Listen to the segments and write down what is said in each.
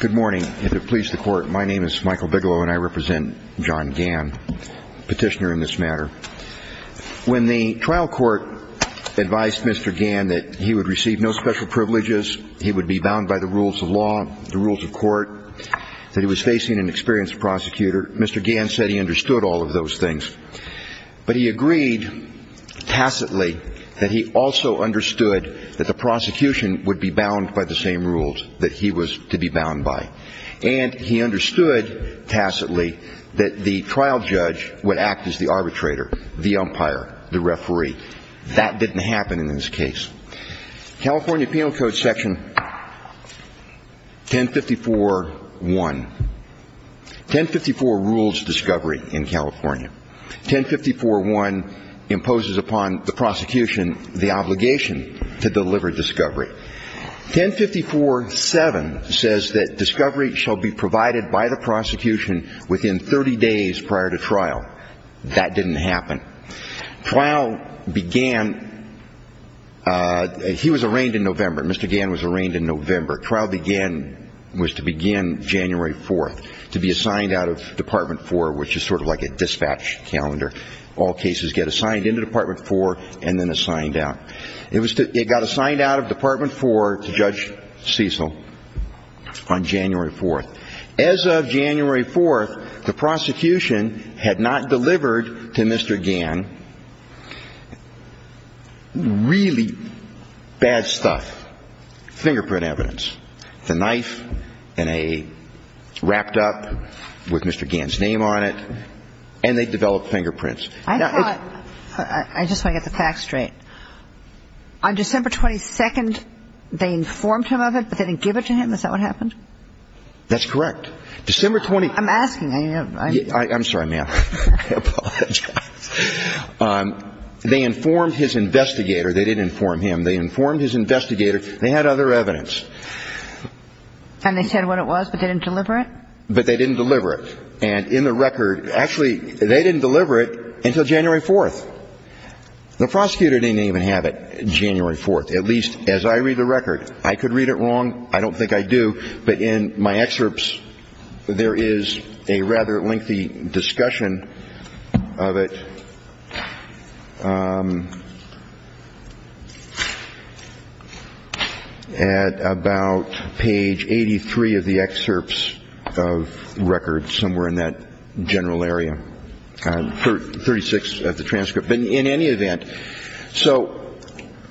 Good morning. If it pleases the Court, my name is Michael Bigelow and I represent John Gann, petitioner in this matter. When the trial court advised Mr. Gann that he would receive no special privileges, he would be bound by the rules of law, the rules of court, that he was facing an experienced prosecutor, Mr. Gann said he understood all of those things. But he agreed tacitly that he also understood that the prosecution would be bound by the same rules that he was to be bound by. And he understood tacitly that the trial judge would act as the arbitrator, the umpire, the referee. That didn't happen in this case. California Penal Code section 1054.1. 1054 rules discovery in California. 1054.1 imposes upon the prosecution the obligation to deliver discovery. 1054.7 says that discovery shall be provided by the prosecution within 30 days prior to trial. That didn't happen. Trial began, he was arraigned in November. Mr. Gann was arraigned in November. Trial began, was to begin January 4th, to be assigned out of Department 4, which is sort of like a dispatch calendar. All cases get assigned into Department 4 and then assigned out. It got assigned out of Department 4 to Judge Cecil on January 4th. As of January 4th, the prosecution had not delivered to Mr. Gann really bad stuff, fingerprint evidence. The knife in a wrapped up with Mr. Gann's name on it, and they developed fingerprints. I thought, I just want to get the facts straight. On December 22nd, they informed him of it, but they didn't give it to him? Is that what happened? That's correct. December 22nd. I'm asking. I'm sorry, ma'am. I apologize. They informed his investigator. They didn't inform him. They informed his investigator. They had other evidence. And they said what it was, but they didn't deliver it? But they didn't deliver it. And in the record, actually, they didn't deliver it until January 4th. The prosecutor didn't even have it January 4th, at least as I read the record. I could read it wrong. I don't think I do. But in my excerpts, there is a rather lengthy discussion of it at about page 83 of the excerpts of records somewhere in that general area, 36 of the transcript. In any event, so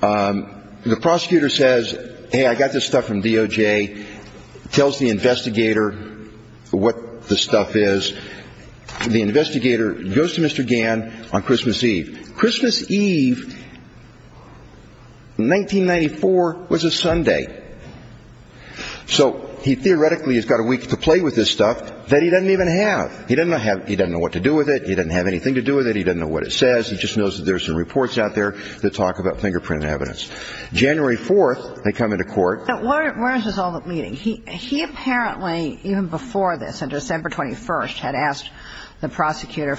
the prosecutor says, hey, I got this stuff from DOJ, tells the investigator what the stuff is. The investigator goes to Mr. Gann on Christmas Eve. Christmas Eve, 1994, was a Sunday. So he theoretically has got a week to play with this stuff that he doesn't even have. He doesn't know what to do with it. He doesn't have anything to do with it. He doesn't know what it says. He just knows that there are some reports out there that talk about fingerprint evidence. January 4th, they come into court. But where is this all meeting? He apparently, even before this, on December 21st, had asked the prosecutor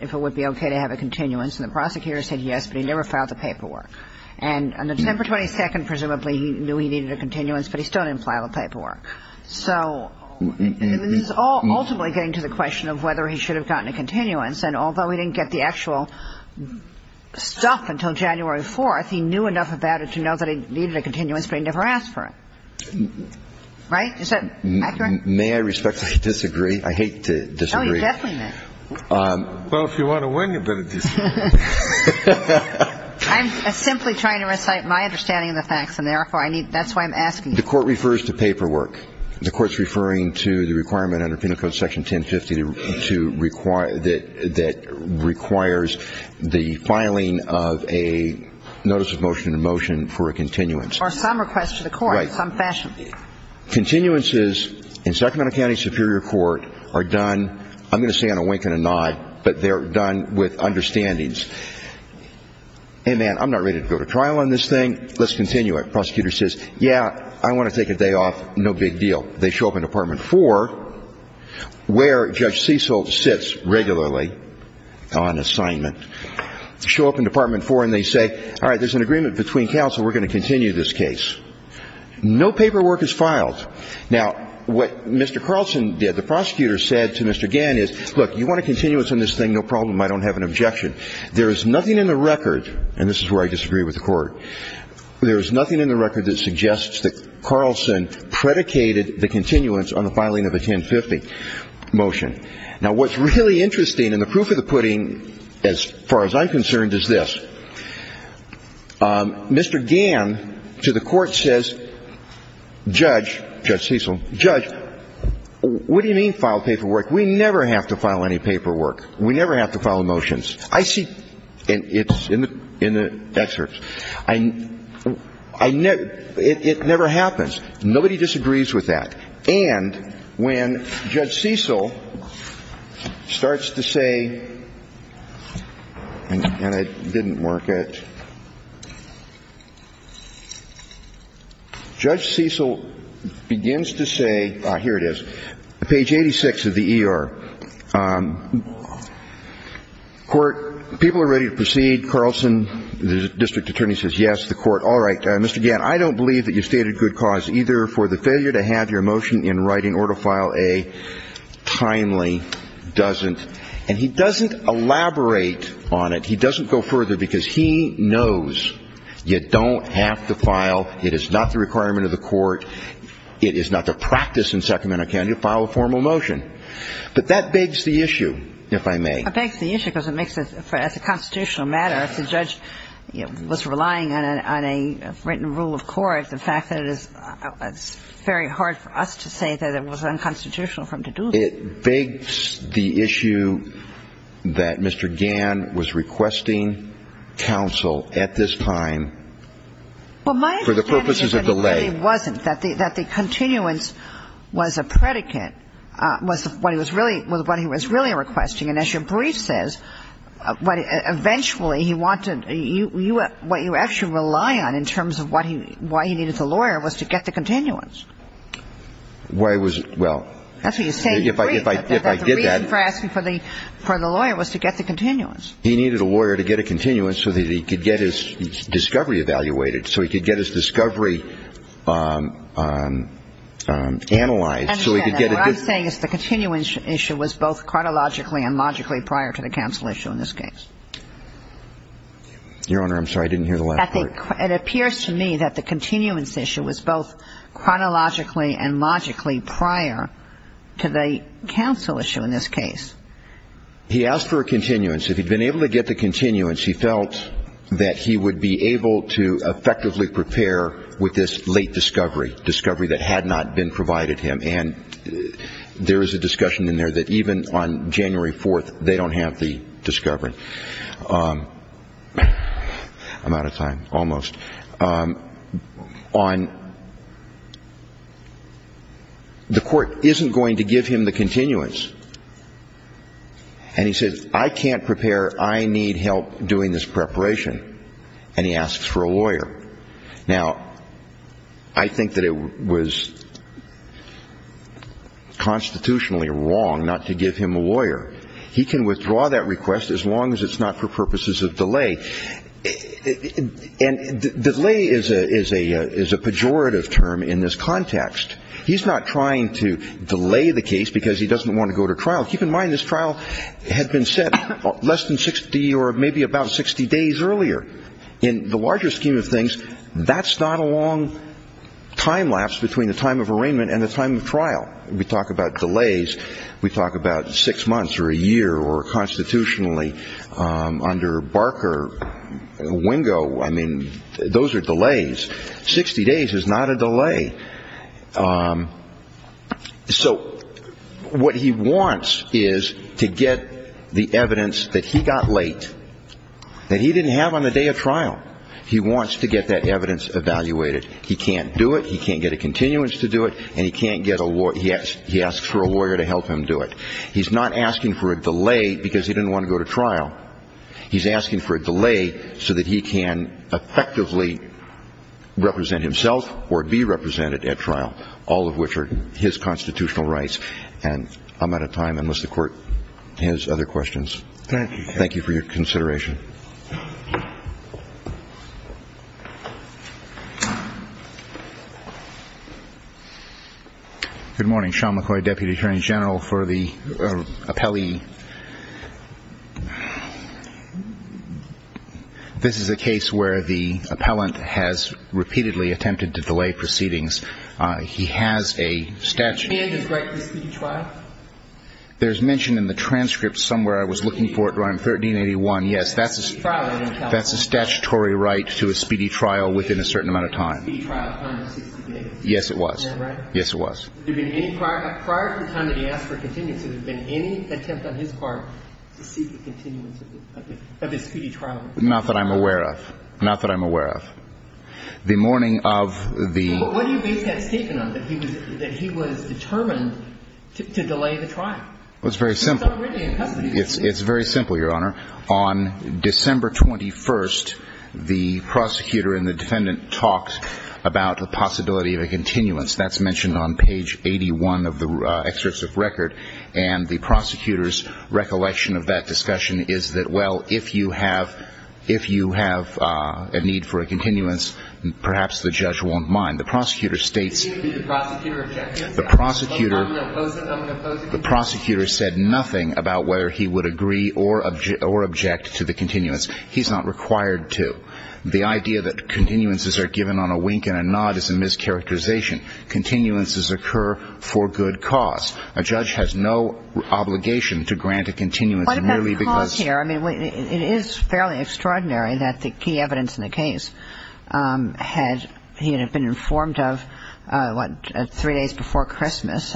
if it would be okay to have a continuance. And the prosecutor said yes, but he never filed the paperwork. And on December 22nd, presumably, he knew he needed a continuance, but he still didn't file the paperwork. So this is all ultimately getting to the question of whether he should have gotten a continuance. And although he didn't get the actual stuff until January 4th, he knew enough about it to know that he needed a continuance, but he never asked for it. Right? Is that accurate? May I respectfully disagree? I hate to disagree. Oh, you definitely may. Well, if you want to win, you better disagree. I'm simply trying to recite my understanding of the facts, and therefore, that's why I'm asking. The Court refers to paperwork. The Court's referring to the requirement under Penal Code Section 1050 to require that requires the filing of a notice of motion to motion for a continuance. Or some request to the court in some fashion. Right. Continuances in Sacramento County Superior Court are done, I'm going to say on a wink and a nod, but they're done with understandings. Hey, man, I'm not ready to go to trial on this thing. Let's continue it. The prosecutor says, yeah, I want to take a day off, no big deal. They show up in Department 4 where Judge Cecil sits regularly on assignment. Show up in Department 4 and they say, all right, there's an agreement between counsel, we're going to continue this case. No paperwork is filed. Now, what Mr. Carlson did, the prosecutor said to Mr. Gann is, look, you want a continuance on this thing, no problem. I don't have an objection. There is nothing in the record, and this is where I disagree with the Court, there is nothing in the record that suggests that Carlson predicated the continuance on the filing of a 1050 motion. Now, what's really interesting, and the proof of the pudding, as far as I'm concerned, is this. Mr. Gann to the Court says, Judge, Judge Cecil, Judge, what do you mean file paperwork? We never have to file any paperwork. We never have to file motions. I see, and it's in the excerpts, I never, it never happens. Nobody disagrees with that. And when Judge Cecil starts to say, and I didn't work it. Judge Cecil begins to say, here it is, page 86 of the ER. Court, people are ready to proceed. Carlson, the district attorney, says yes. The Court, all right, Mr. Gann, I don't believe that you stated good cause either for the failure to have your motion in writing or to file a timely doesn't. And he doesn't elaborate on it. He doesn't go further because he knows you don't have to file, it is not the requirement of the Court, it is not the practice in Sacramento County to file a formal motion. But that begs the issue, if I may. It begs the issue because it makes it, as a constitutional matter, if the judge was relying on a written rule of court, the fact that it is very hard for us to say that it was unconstitutional for him to do that. It begs the issue that Mr. Gann was requesting counsel at this time for the purposes of delay. But he wasn't, that the continuance was a predicate, was what he was really requesting. And as your brief says, eventually he wanted, what you actually rely on in terms of why he needed the lawyer was to get the continuance. Well, that's what you say in your brief, that the reason for asking for the lawyer was to get the continuance. He needed a lawyer to get a continuance so that he could get his discovery evaluated, so he could get his discovery analyzed, so he could get a good. What I'm saying is the continuance issue was both chronologically and logically prior to the counsel issue in this case. Your Honor, I'm sorry, I didn't hear the last part. It appears to me that the continuance issue was both chronologically and logically prior to the counsel issue in this case. He asked for a continuance. If he'd been able to get the continuance, he felt that he would be able to effectively prepare with this late discovery, discovery that had not been provided him. And there is a discussion in there that even on January 4th, they don't have the discovery. I'm out of time, almost. The court isn't going to give him the continuance. And he says, I can't prepare, I need help doing this preparation. And he asks for a lawyer. Now, I think that it was constitutionally wrong not to give him a lawyer. He can withdraw that request as long as it's not for purposes of delay. And delay is a pejorative term in this context. He's not trying to delay the case because he doesn't want to go to trial. Keep in mind this trial had been set less than 60 or maybe about 60 days earlier. In the larger scheme of things, that's not a long time lapse between the time of arraignment and the time of trial. We talk about delays, we talk about six months or a year or constitutionally under Barker, Wingo. I mean, those are delays. Sixty days is not a delay. So what he wants is to get the evidence that he got late that he didn't have on the day of trial. He wants to get that evidence evaluated. He can't do it. He can't get a continuance to do it, and he can't get a lawyer. He asks for a lawyer to help him do it. He's not asking for a delay because he didn't want to go to trial. He's asking for a delay so that he can effectively represent himself or be represented at trial, all of which are his constitutional rights. And I'm out of time unless the Court has other questions. Thank you. Thank you for your consideration. Good morning. Sean McCoy, Deputy Attorney General for the appellee. This is a case where the appellant has repeatedly attempted to delay proceedings. He has a statute. Can you just write the speech file? There's mention in the transcript somewhere I was looking for it. Yes, that's a statutory right to a speedy trial within a certain amount of time. Yes, it was. Yes, it was. Not that I'm aware of. Not that I'm aware of. The morning of the ---- Well, it's very simple. It's very simple, Your Honor. On December 21st, the prosecutor and the defendant talked about the possibility of a continuance. That's mentioned on page 81 of the excerpts of record. And the prosecutor's recollection of that discussion is that, well, if you have a need for a continuance, perhaps the judge won't mind. The prosecutor states the prosecutor said nothing about whether he would agree or object to the continuance. He's not required to. The idea that continuances are given on a wink and a nod is a mischaracterization. Continuances occur for good cause. A judge has no obligation to grant a continuance merely because ---- He was not informed of the key evidence of the case the day before Christmas.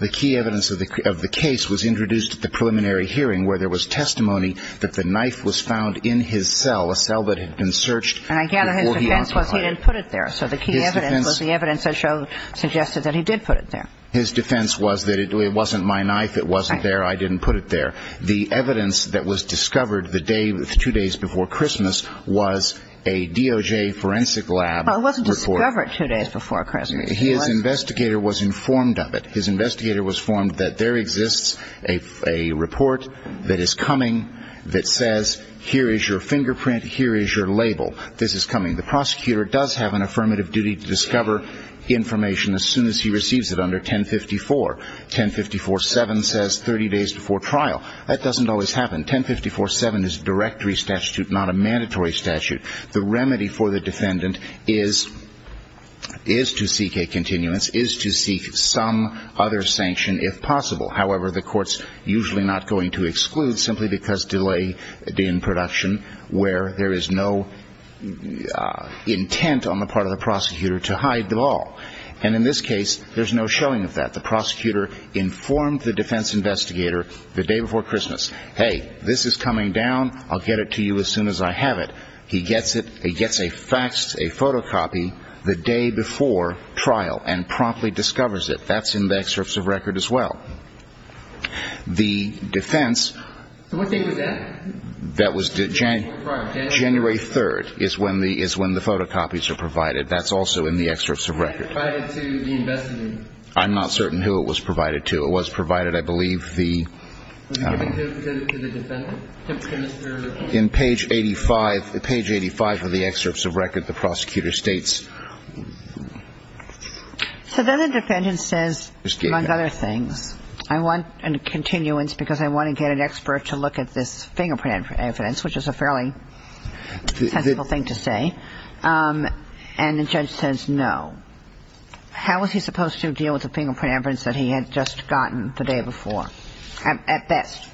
The key evidence of the case was introduced at the preliminary hearing where there was testimony that the knife was found in his cell, a cell that had been searched before he occupied it. And I gather his defense was he didn't put it there. So the key evidence was the evidence that suggested that he did put it there. His defense was that it wasn't mine. I didn't put it there. The evidence that was discovered the day, two days before Christmas, was a DOJ forensic lab. Well, it wasn't discovered two days before Christmas. His investigator was informed of it. His investigator was informed that there exists a report that is coming that says here is your fingerprint, here is your label. This is coming. The prosecutor does have an affirmative duty to discover information as soon as he receives it under 1054. 1054.7 says 30 days before trial. That doesn't always happen. 1054.7 is a directory statute, not a mandatory statute. The remedy for the defendant is to seek a continuance, is to seek some other sanction if possible. However, the court's usually not going to exclude simply because delay in production where there is no intent on the part of the prosecutor to hide them all. And in this case, there's no showing of that. The prosecutor informed the defense investigator the day before Christmas. Hey, this is coming down. I'll get it to you as soon as I have it. He gets it. He gets a faxed, a photocopy the day before trial and promptly discovers it. That's in the excerpts of record as well. The defense. What date was that? That was January 3rd is when the photocopies are provided. That's also in the excerpts of record. I'm not certain who it was provided to. It was provided, I believe, the. In page 85, page 85 of the excerpts of record, the prosecutor states. So then the defendant says, among other things, I want a continuance because I want to get an expert to look at this fingerprint evidence, which is a fairly sensible thing to say. And the judge says no. How was he supposed to deal with the fingerprint evidence that he had just gotten the day before? At best.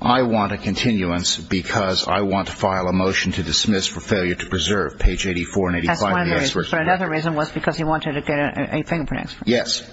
I want a continuance because I want to file a motion to dismiss for failure to preserve page 84 and 85. That's one of the reasons. But another reason was because he wanted to get a fingerprint expert. Yes.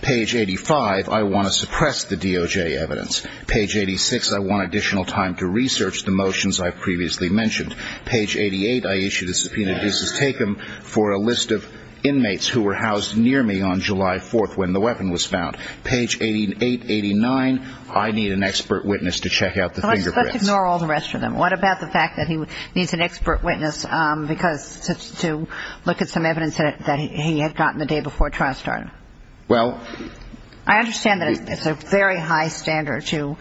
Page 85, I want to suppress the DOJ evidence. Page 86, I want additional time to research the motions I've previously mentioned. Page 88, I issue the subpoena. This is taken for a list of inmates who were housed near me on July 4th when the weapon was found. Page 88, 89, I need an expert witness to check out the fingerprints. Let's ignore all the rest of them. What about the fact that he needs an expert witness because to look at some evidence that he had gotten the day before trial started? Well. I understand that it's a very high standard to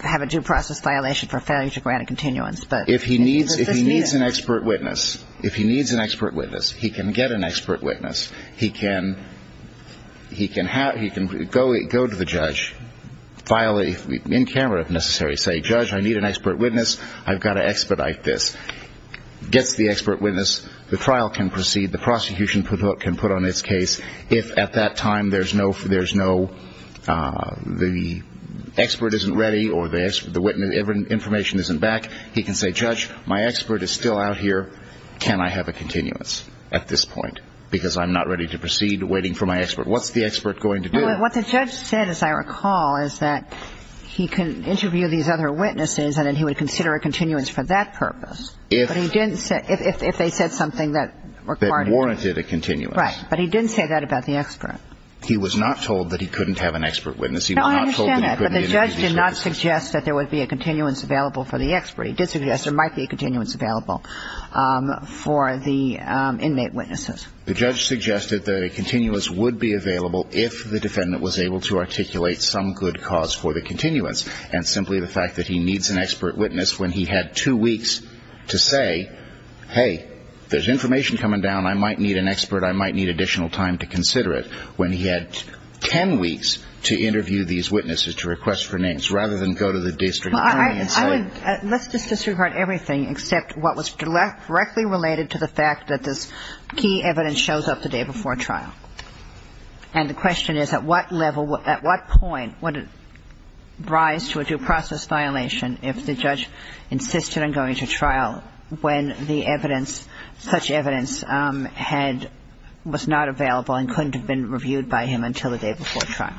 have a due process violation for failure to grant a continuance. If he needs an expert witness, if he needs an expert witness, he can get an expert witness. He can go to the judge, file in camera if necessary, say, judge, I need an expert witness. I've got to expedite this. Gets the expert witness, the trial can proceed. The prosecution can put on its case if at that time there's no the expert isn't ready or the information isn't back, he can say, judge, my expert is still out here. Can I have a continuance at this point because I'm not ready to proceed waiting for my expert? What's the expert going to do? What the judge said, as I recall, is that he can interview these other witnesses and then he would consider a continuance for that purpose. If they said something that warranted a continuance. Right. But he didn't say that about the expert. He was not told that he couldn't have an expert witness. No, I understand that. But the judge did not suggest that there would be a continuance available for the expert. He did suggest there might be a continuance available for the inmate witnesses. The judge suggested that a continuance would be available if the defendant was able to articulate some good cause for the continuance and simply the fact that he needs an expert witness when he had two weeks to say, hey, there's information coming down. I might need an expert. I might need additional time to consider it. When he had ten weeks to interview these witnesses, to request for names, rather than go to the district attorney and say. Let's just disregard everything except what was directly related to the fact that this key evidence shows up the day before trial. And the question is, at what level, at what point would it rise to a due process violation if the judge insisted on going to trial when the evidence, such evidence, was not available and couldn't have been reviewed by him until the day before trial?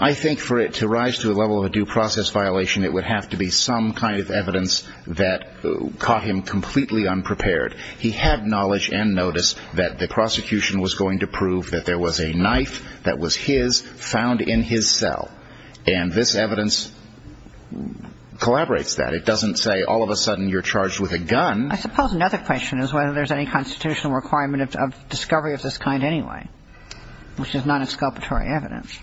I think for it to rise to a level of a due process violation, it would have to be some kind of evidence that caught him completely unprepared. He had knowledge and notice that the prosecution was going to prove that there was a knife that was his found in his cell. And this evidence collaborates that. It doesn't say all of a sudden you're charged with a gun. I suppose another question is whether there's any constitutional requirement of discovery of this kind anyway, which is non-exculpatory evidence.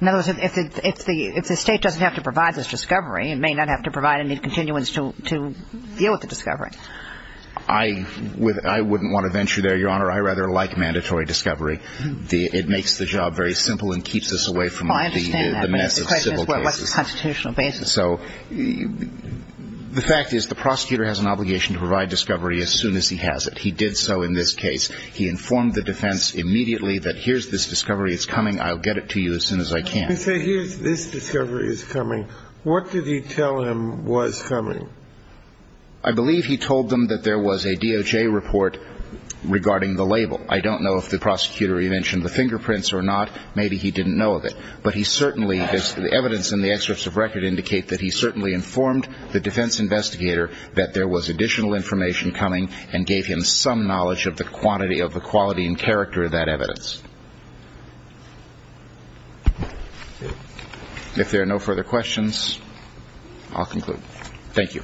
In other words, if the state doesn't have to provide this discovery, it may not have to provide any continuance to deal with the discovery. I wouldn't want to venture there, Your Honor. I rather like mandatory discovery. It makes the job very simple and keeps us away from the mess of civil cases. Well, I understand that, but the question is, well, what's the constitutional basis? So the fact is the prosecutor has an obligation to provide discovery as soon as he has it. He did so in this case. He informed the defense immediately that here's this discovery. It's coming. I'll get it to you as soon as I can. You say here's this discovery is coming. What did he tell him was coming? I believe he told them that there was a DOJ report regarding the label. I don't know if the prosecutor, he mentioned the fingerprints or not. Maybe he didn't know of it. But he certainly, the evidence in the excerpts of record indicate that he certainly informed the defense investigator that there was additional information coming and gave him some knowledge of the quantity, of the quality and character of that evidence. If there are no further questions, I'll conclude. Thank you.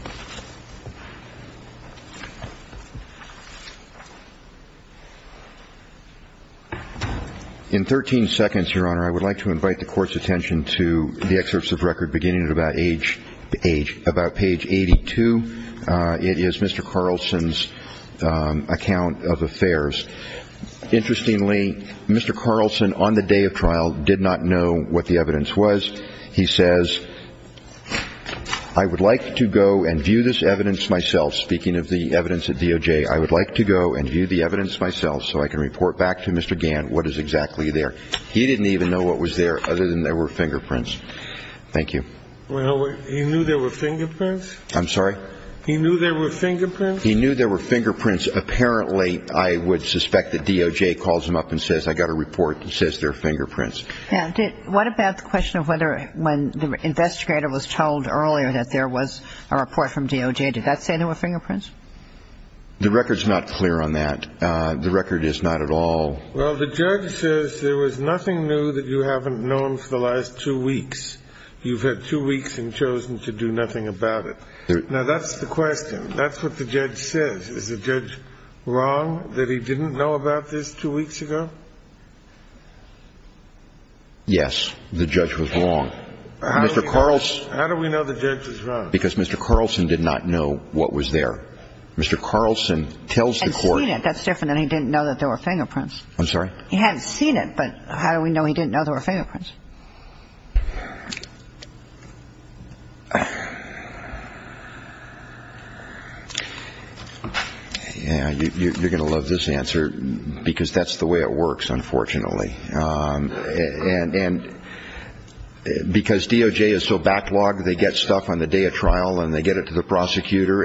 In 13 seconds, Your Honor, I would like to invite the Court's attention to the excerpts of record beginning at about page 82. It is Mr. Carlson's account of affairs. Interestingly, Mr. Carlson on the day of trial did not know what the evidence was. He says, I would like to go and view this evidence myself, speaking of the evidence at DOJ. I would like to go and view the evidence myself so I can report back to Mr. Gant what is exactly there. He didn't even know what was there other than there were fingerprints. Thank you. Well, you knew there were fingerprints? I'm sorry? He knew there were fingerprints? He knew there were fingerprints. Apparently, I would suspect that DOJ calls him up and says, I got a report that says there are fingerprints. Yeah. What about the question of whether when the investigator was told earlier that there was a report from DOJ, did that say there were fingerprints? The record's not clear on that. The record is not at all. The record is not clear on that. And you've had two weeks. You've had two weeks and chosen to do nothing about it. Now, that's the question. That's what the judge says. Is the judge wrong that he didn't know about this two weeks ago? Yes, the judge was wrong. How do we know the judge is wrong? Because Mr. Carlson did not know what was there. Mr. Carlson tells the Court that's different than he didn't know that there were fingerprints. I'm sorry? He hadn't seen it, but how do we know he didn't know there were fingerprints? Yeah, you're going to love this answer because that's the way it works, unfortunately. And because DOJ is so backlogged, they get stuff on the day of trial and they get it to the prosecutor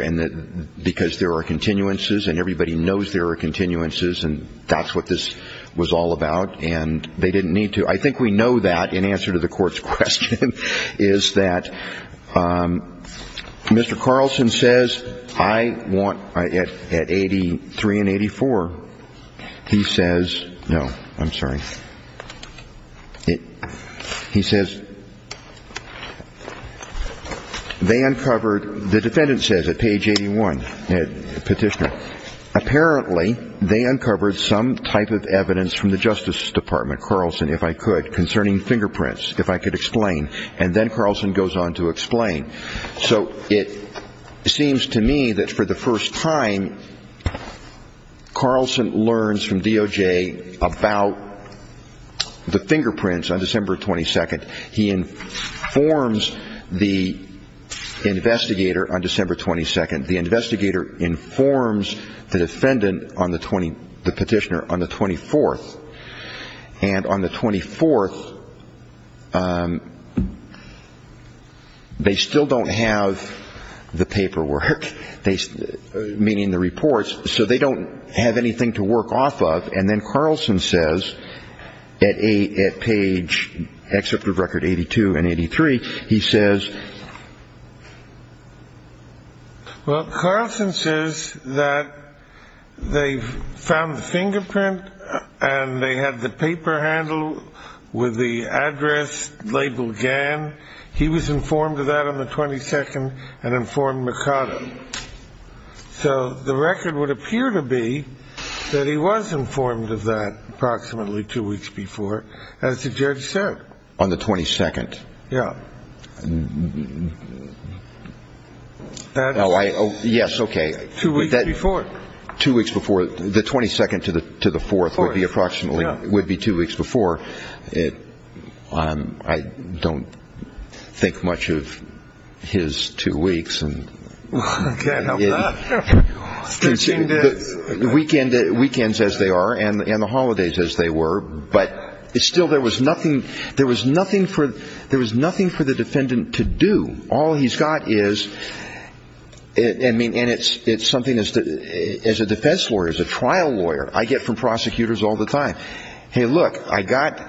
because there are continuances, and everybody knows there are continuances, and that's what this was all about. And they didn't need to. I think we know that in answer to the Court's question is that Mr. Carlson says, I want, at 83 and 84, he says no. I'm sorry. He says they uncovered, the defendant says at page 81, Petitioner, apparently they uncovered some type of evidence from the Justice Department, Carlson, if I could, concerning fingerprints, if I could explain. And then Carlson goes on to explain. So it seems to me that for the first time, Carlson learns from DOJ about the fingerprints on December 22nd. He informs the investigator on December 22nd. The investigator informs the defendant on the Petitioner on the 24th. And on the 24th, they still don't have the paperwork, meaning the reports, so they don't have anything to work off of. And then Carlson says at page, excerpt of record 82 and 83, he says. Well, Carlson says that they found the fingerprint and they had the paper handle with the address labeled Gann. He was informed of that on the 22nd and informed Mercado. So the record would appear to be that he was informed of that approximately two weeks before, as the judge said. On the 22nd. Yeah. Yes, okay. Two weeks before. Two weeks before. The 22nd to the 4th would be approximately, would be two weeks before. I don't think much of his two weeks. I can't help that. The weekends as they are and the holidays as they were, but still there was nothing, there was nothing for the defendant to do. All he's got is, I mean, and it's something as a defense lawyer, as a trial lawyer, I get from prosecutors all the time. Hey, look, I got,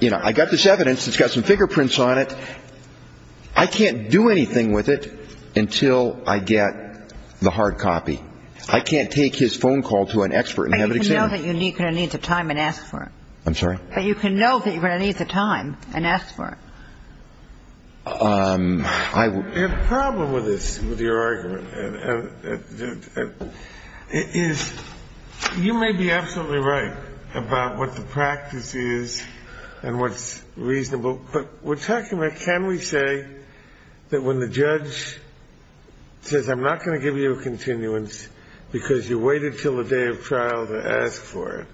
you know, I got this evidence. It's got some fingerprints on it. I can't do anything with it until I get the hard copy. I can't take his phone call to an expert and have it examined. But you can know that you're going to need the time and ask for it. I'm sorry? I have a problem with this, with your argument. You may be absolutely right about what the practice is and what's reasonable. But we're talking about can we say that when the judge says I'm not going to give you a continuance because you waited until the day of trial to ask for it,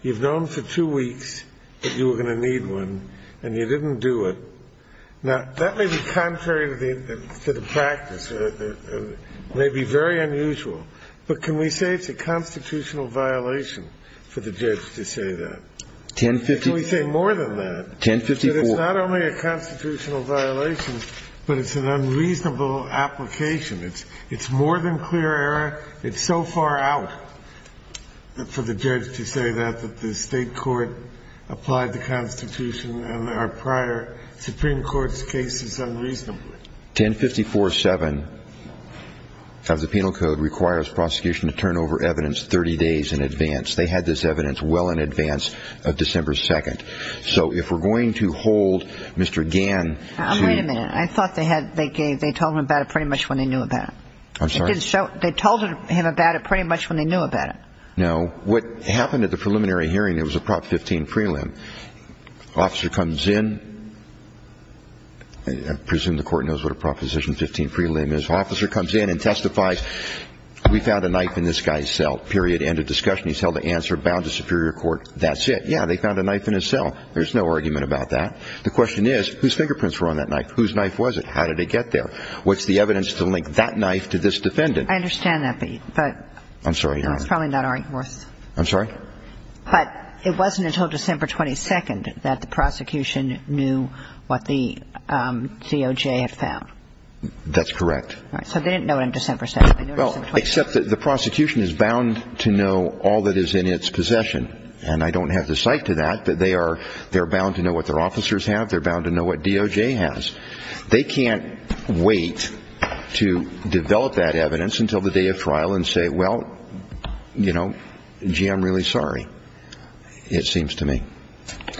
you've known for two weeks that you were going to need one, and you didn't do it. Now, that may be contrary to the practice. It may be very unusual. But can we say it's a constitutional violation for the judge to say that? Can we say more than that? It's not only a constitutional violation, but it's an unreasonable application. It's more than clear error. It's so far out for the judge to say that, that the state court applied the Constitution and our prior Supreme Court's cases unreasonably. 1054-7 of the Penal Code requires prosecution to turn over evidence 30 days in advance. They had this evidence well in advance of December 2nd. So if we're going to hold Mr. Gann to ---- Wait a minute. I thought they told him about it pretty much when they knew about it. I'm sorry? They told him about it pretty much when they knew about it. No. What happened at the preliminary hearing, it was a Prop 15 prelim. Officer comes in. I presume the court knows what a Proposition 15 prelim is. Officer comes in and testifies. We found a knife in this guy's cell, period. End of discussion. He's held to answer, bound to Superior Court. That's it. Yeah, they found a knife in his cell. There's no argument about that. The question is, whose fingerprints were on that knife? Whose knife was it? How did it get there? What's the evidence to link that knife to this defendant? I understand that, but ---- I'm sorry. No, it's probably not our worth. I'm sorry? But it wasn't until December 22nd that the prosecution knew what the COJ had found. That's correct. All right. So they didn't know it on December 2nd. They knew it on December 22nd. Well, except that the prosecution is bound to know all that is in its possession. And I don't have the cite to that, but they are bound to know what their officers have. They're bound to know what DOJ has. They can't wait to develop that evidence until the day of trial and say, well, you know, gee, I'm really sorry, it seems to me.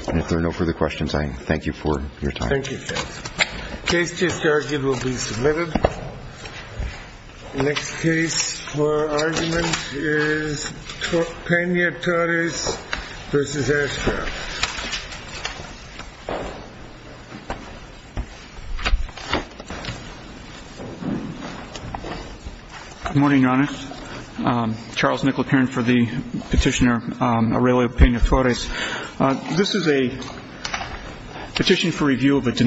And if there are no further questions, I thank you for your time. Thank you, Judge. Case just argued will be submitted. The next case for argument is Peña-Torres v. Ashcroft. Good morning, Your Honor. Charles Nicolet here for the petitioner Aurelio Peña-Torres. This is a petition for review of a denial of evidence.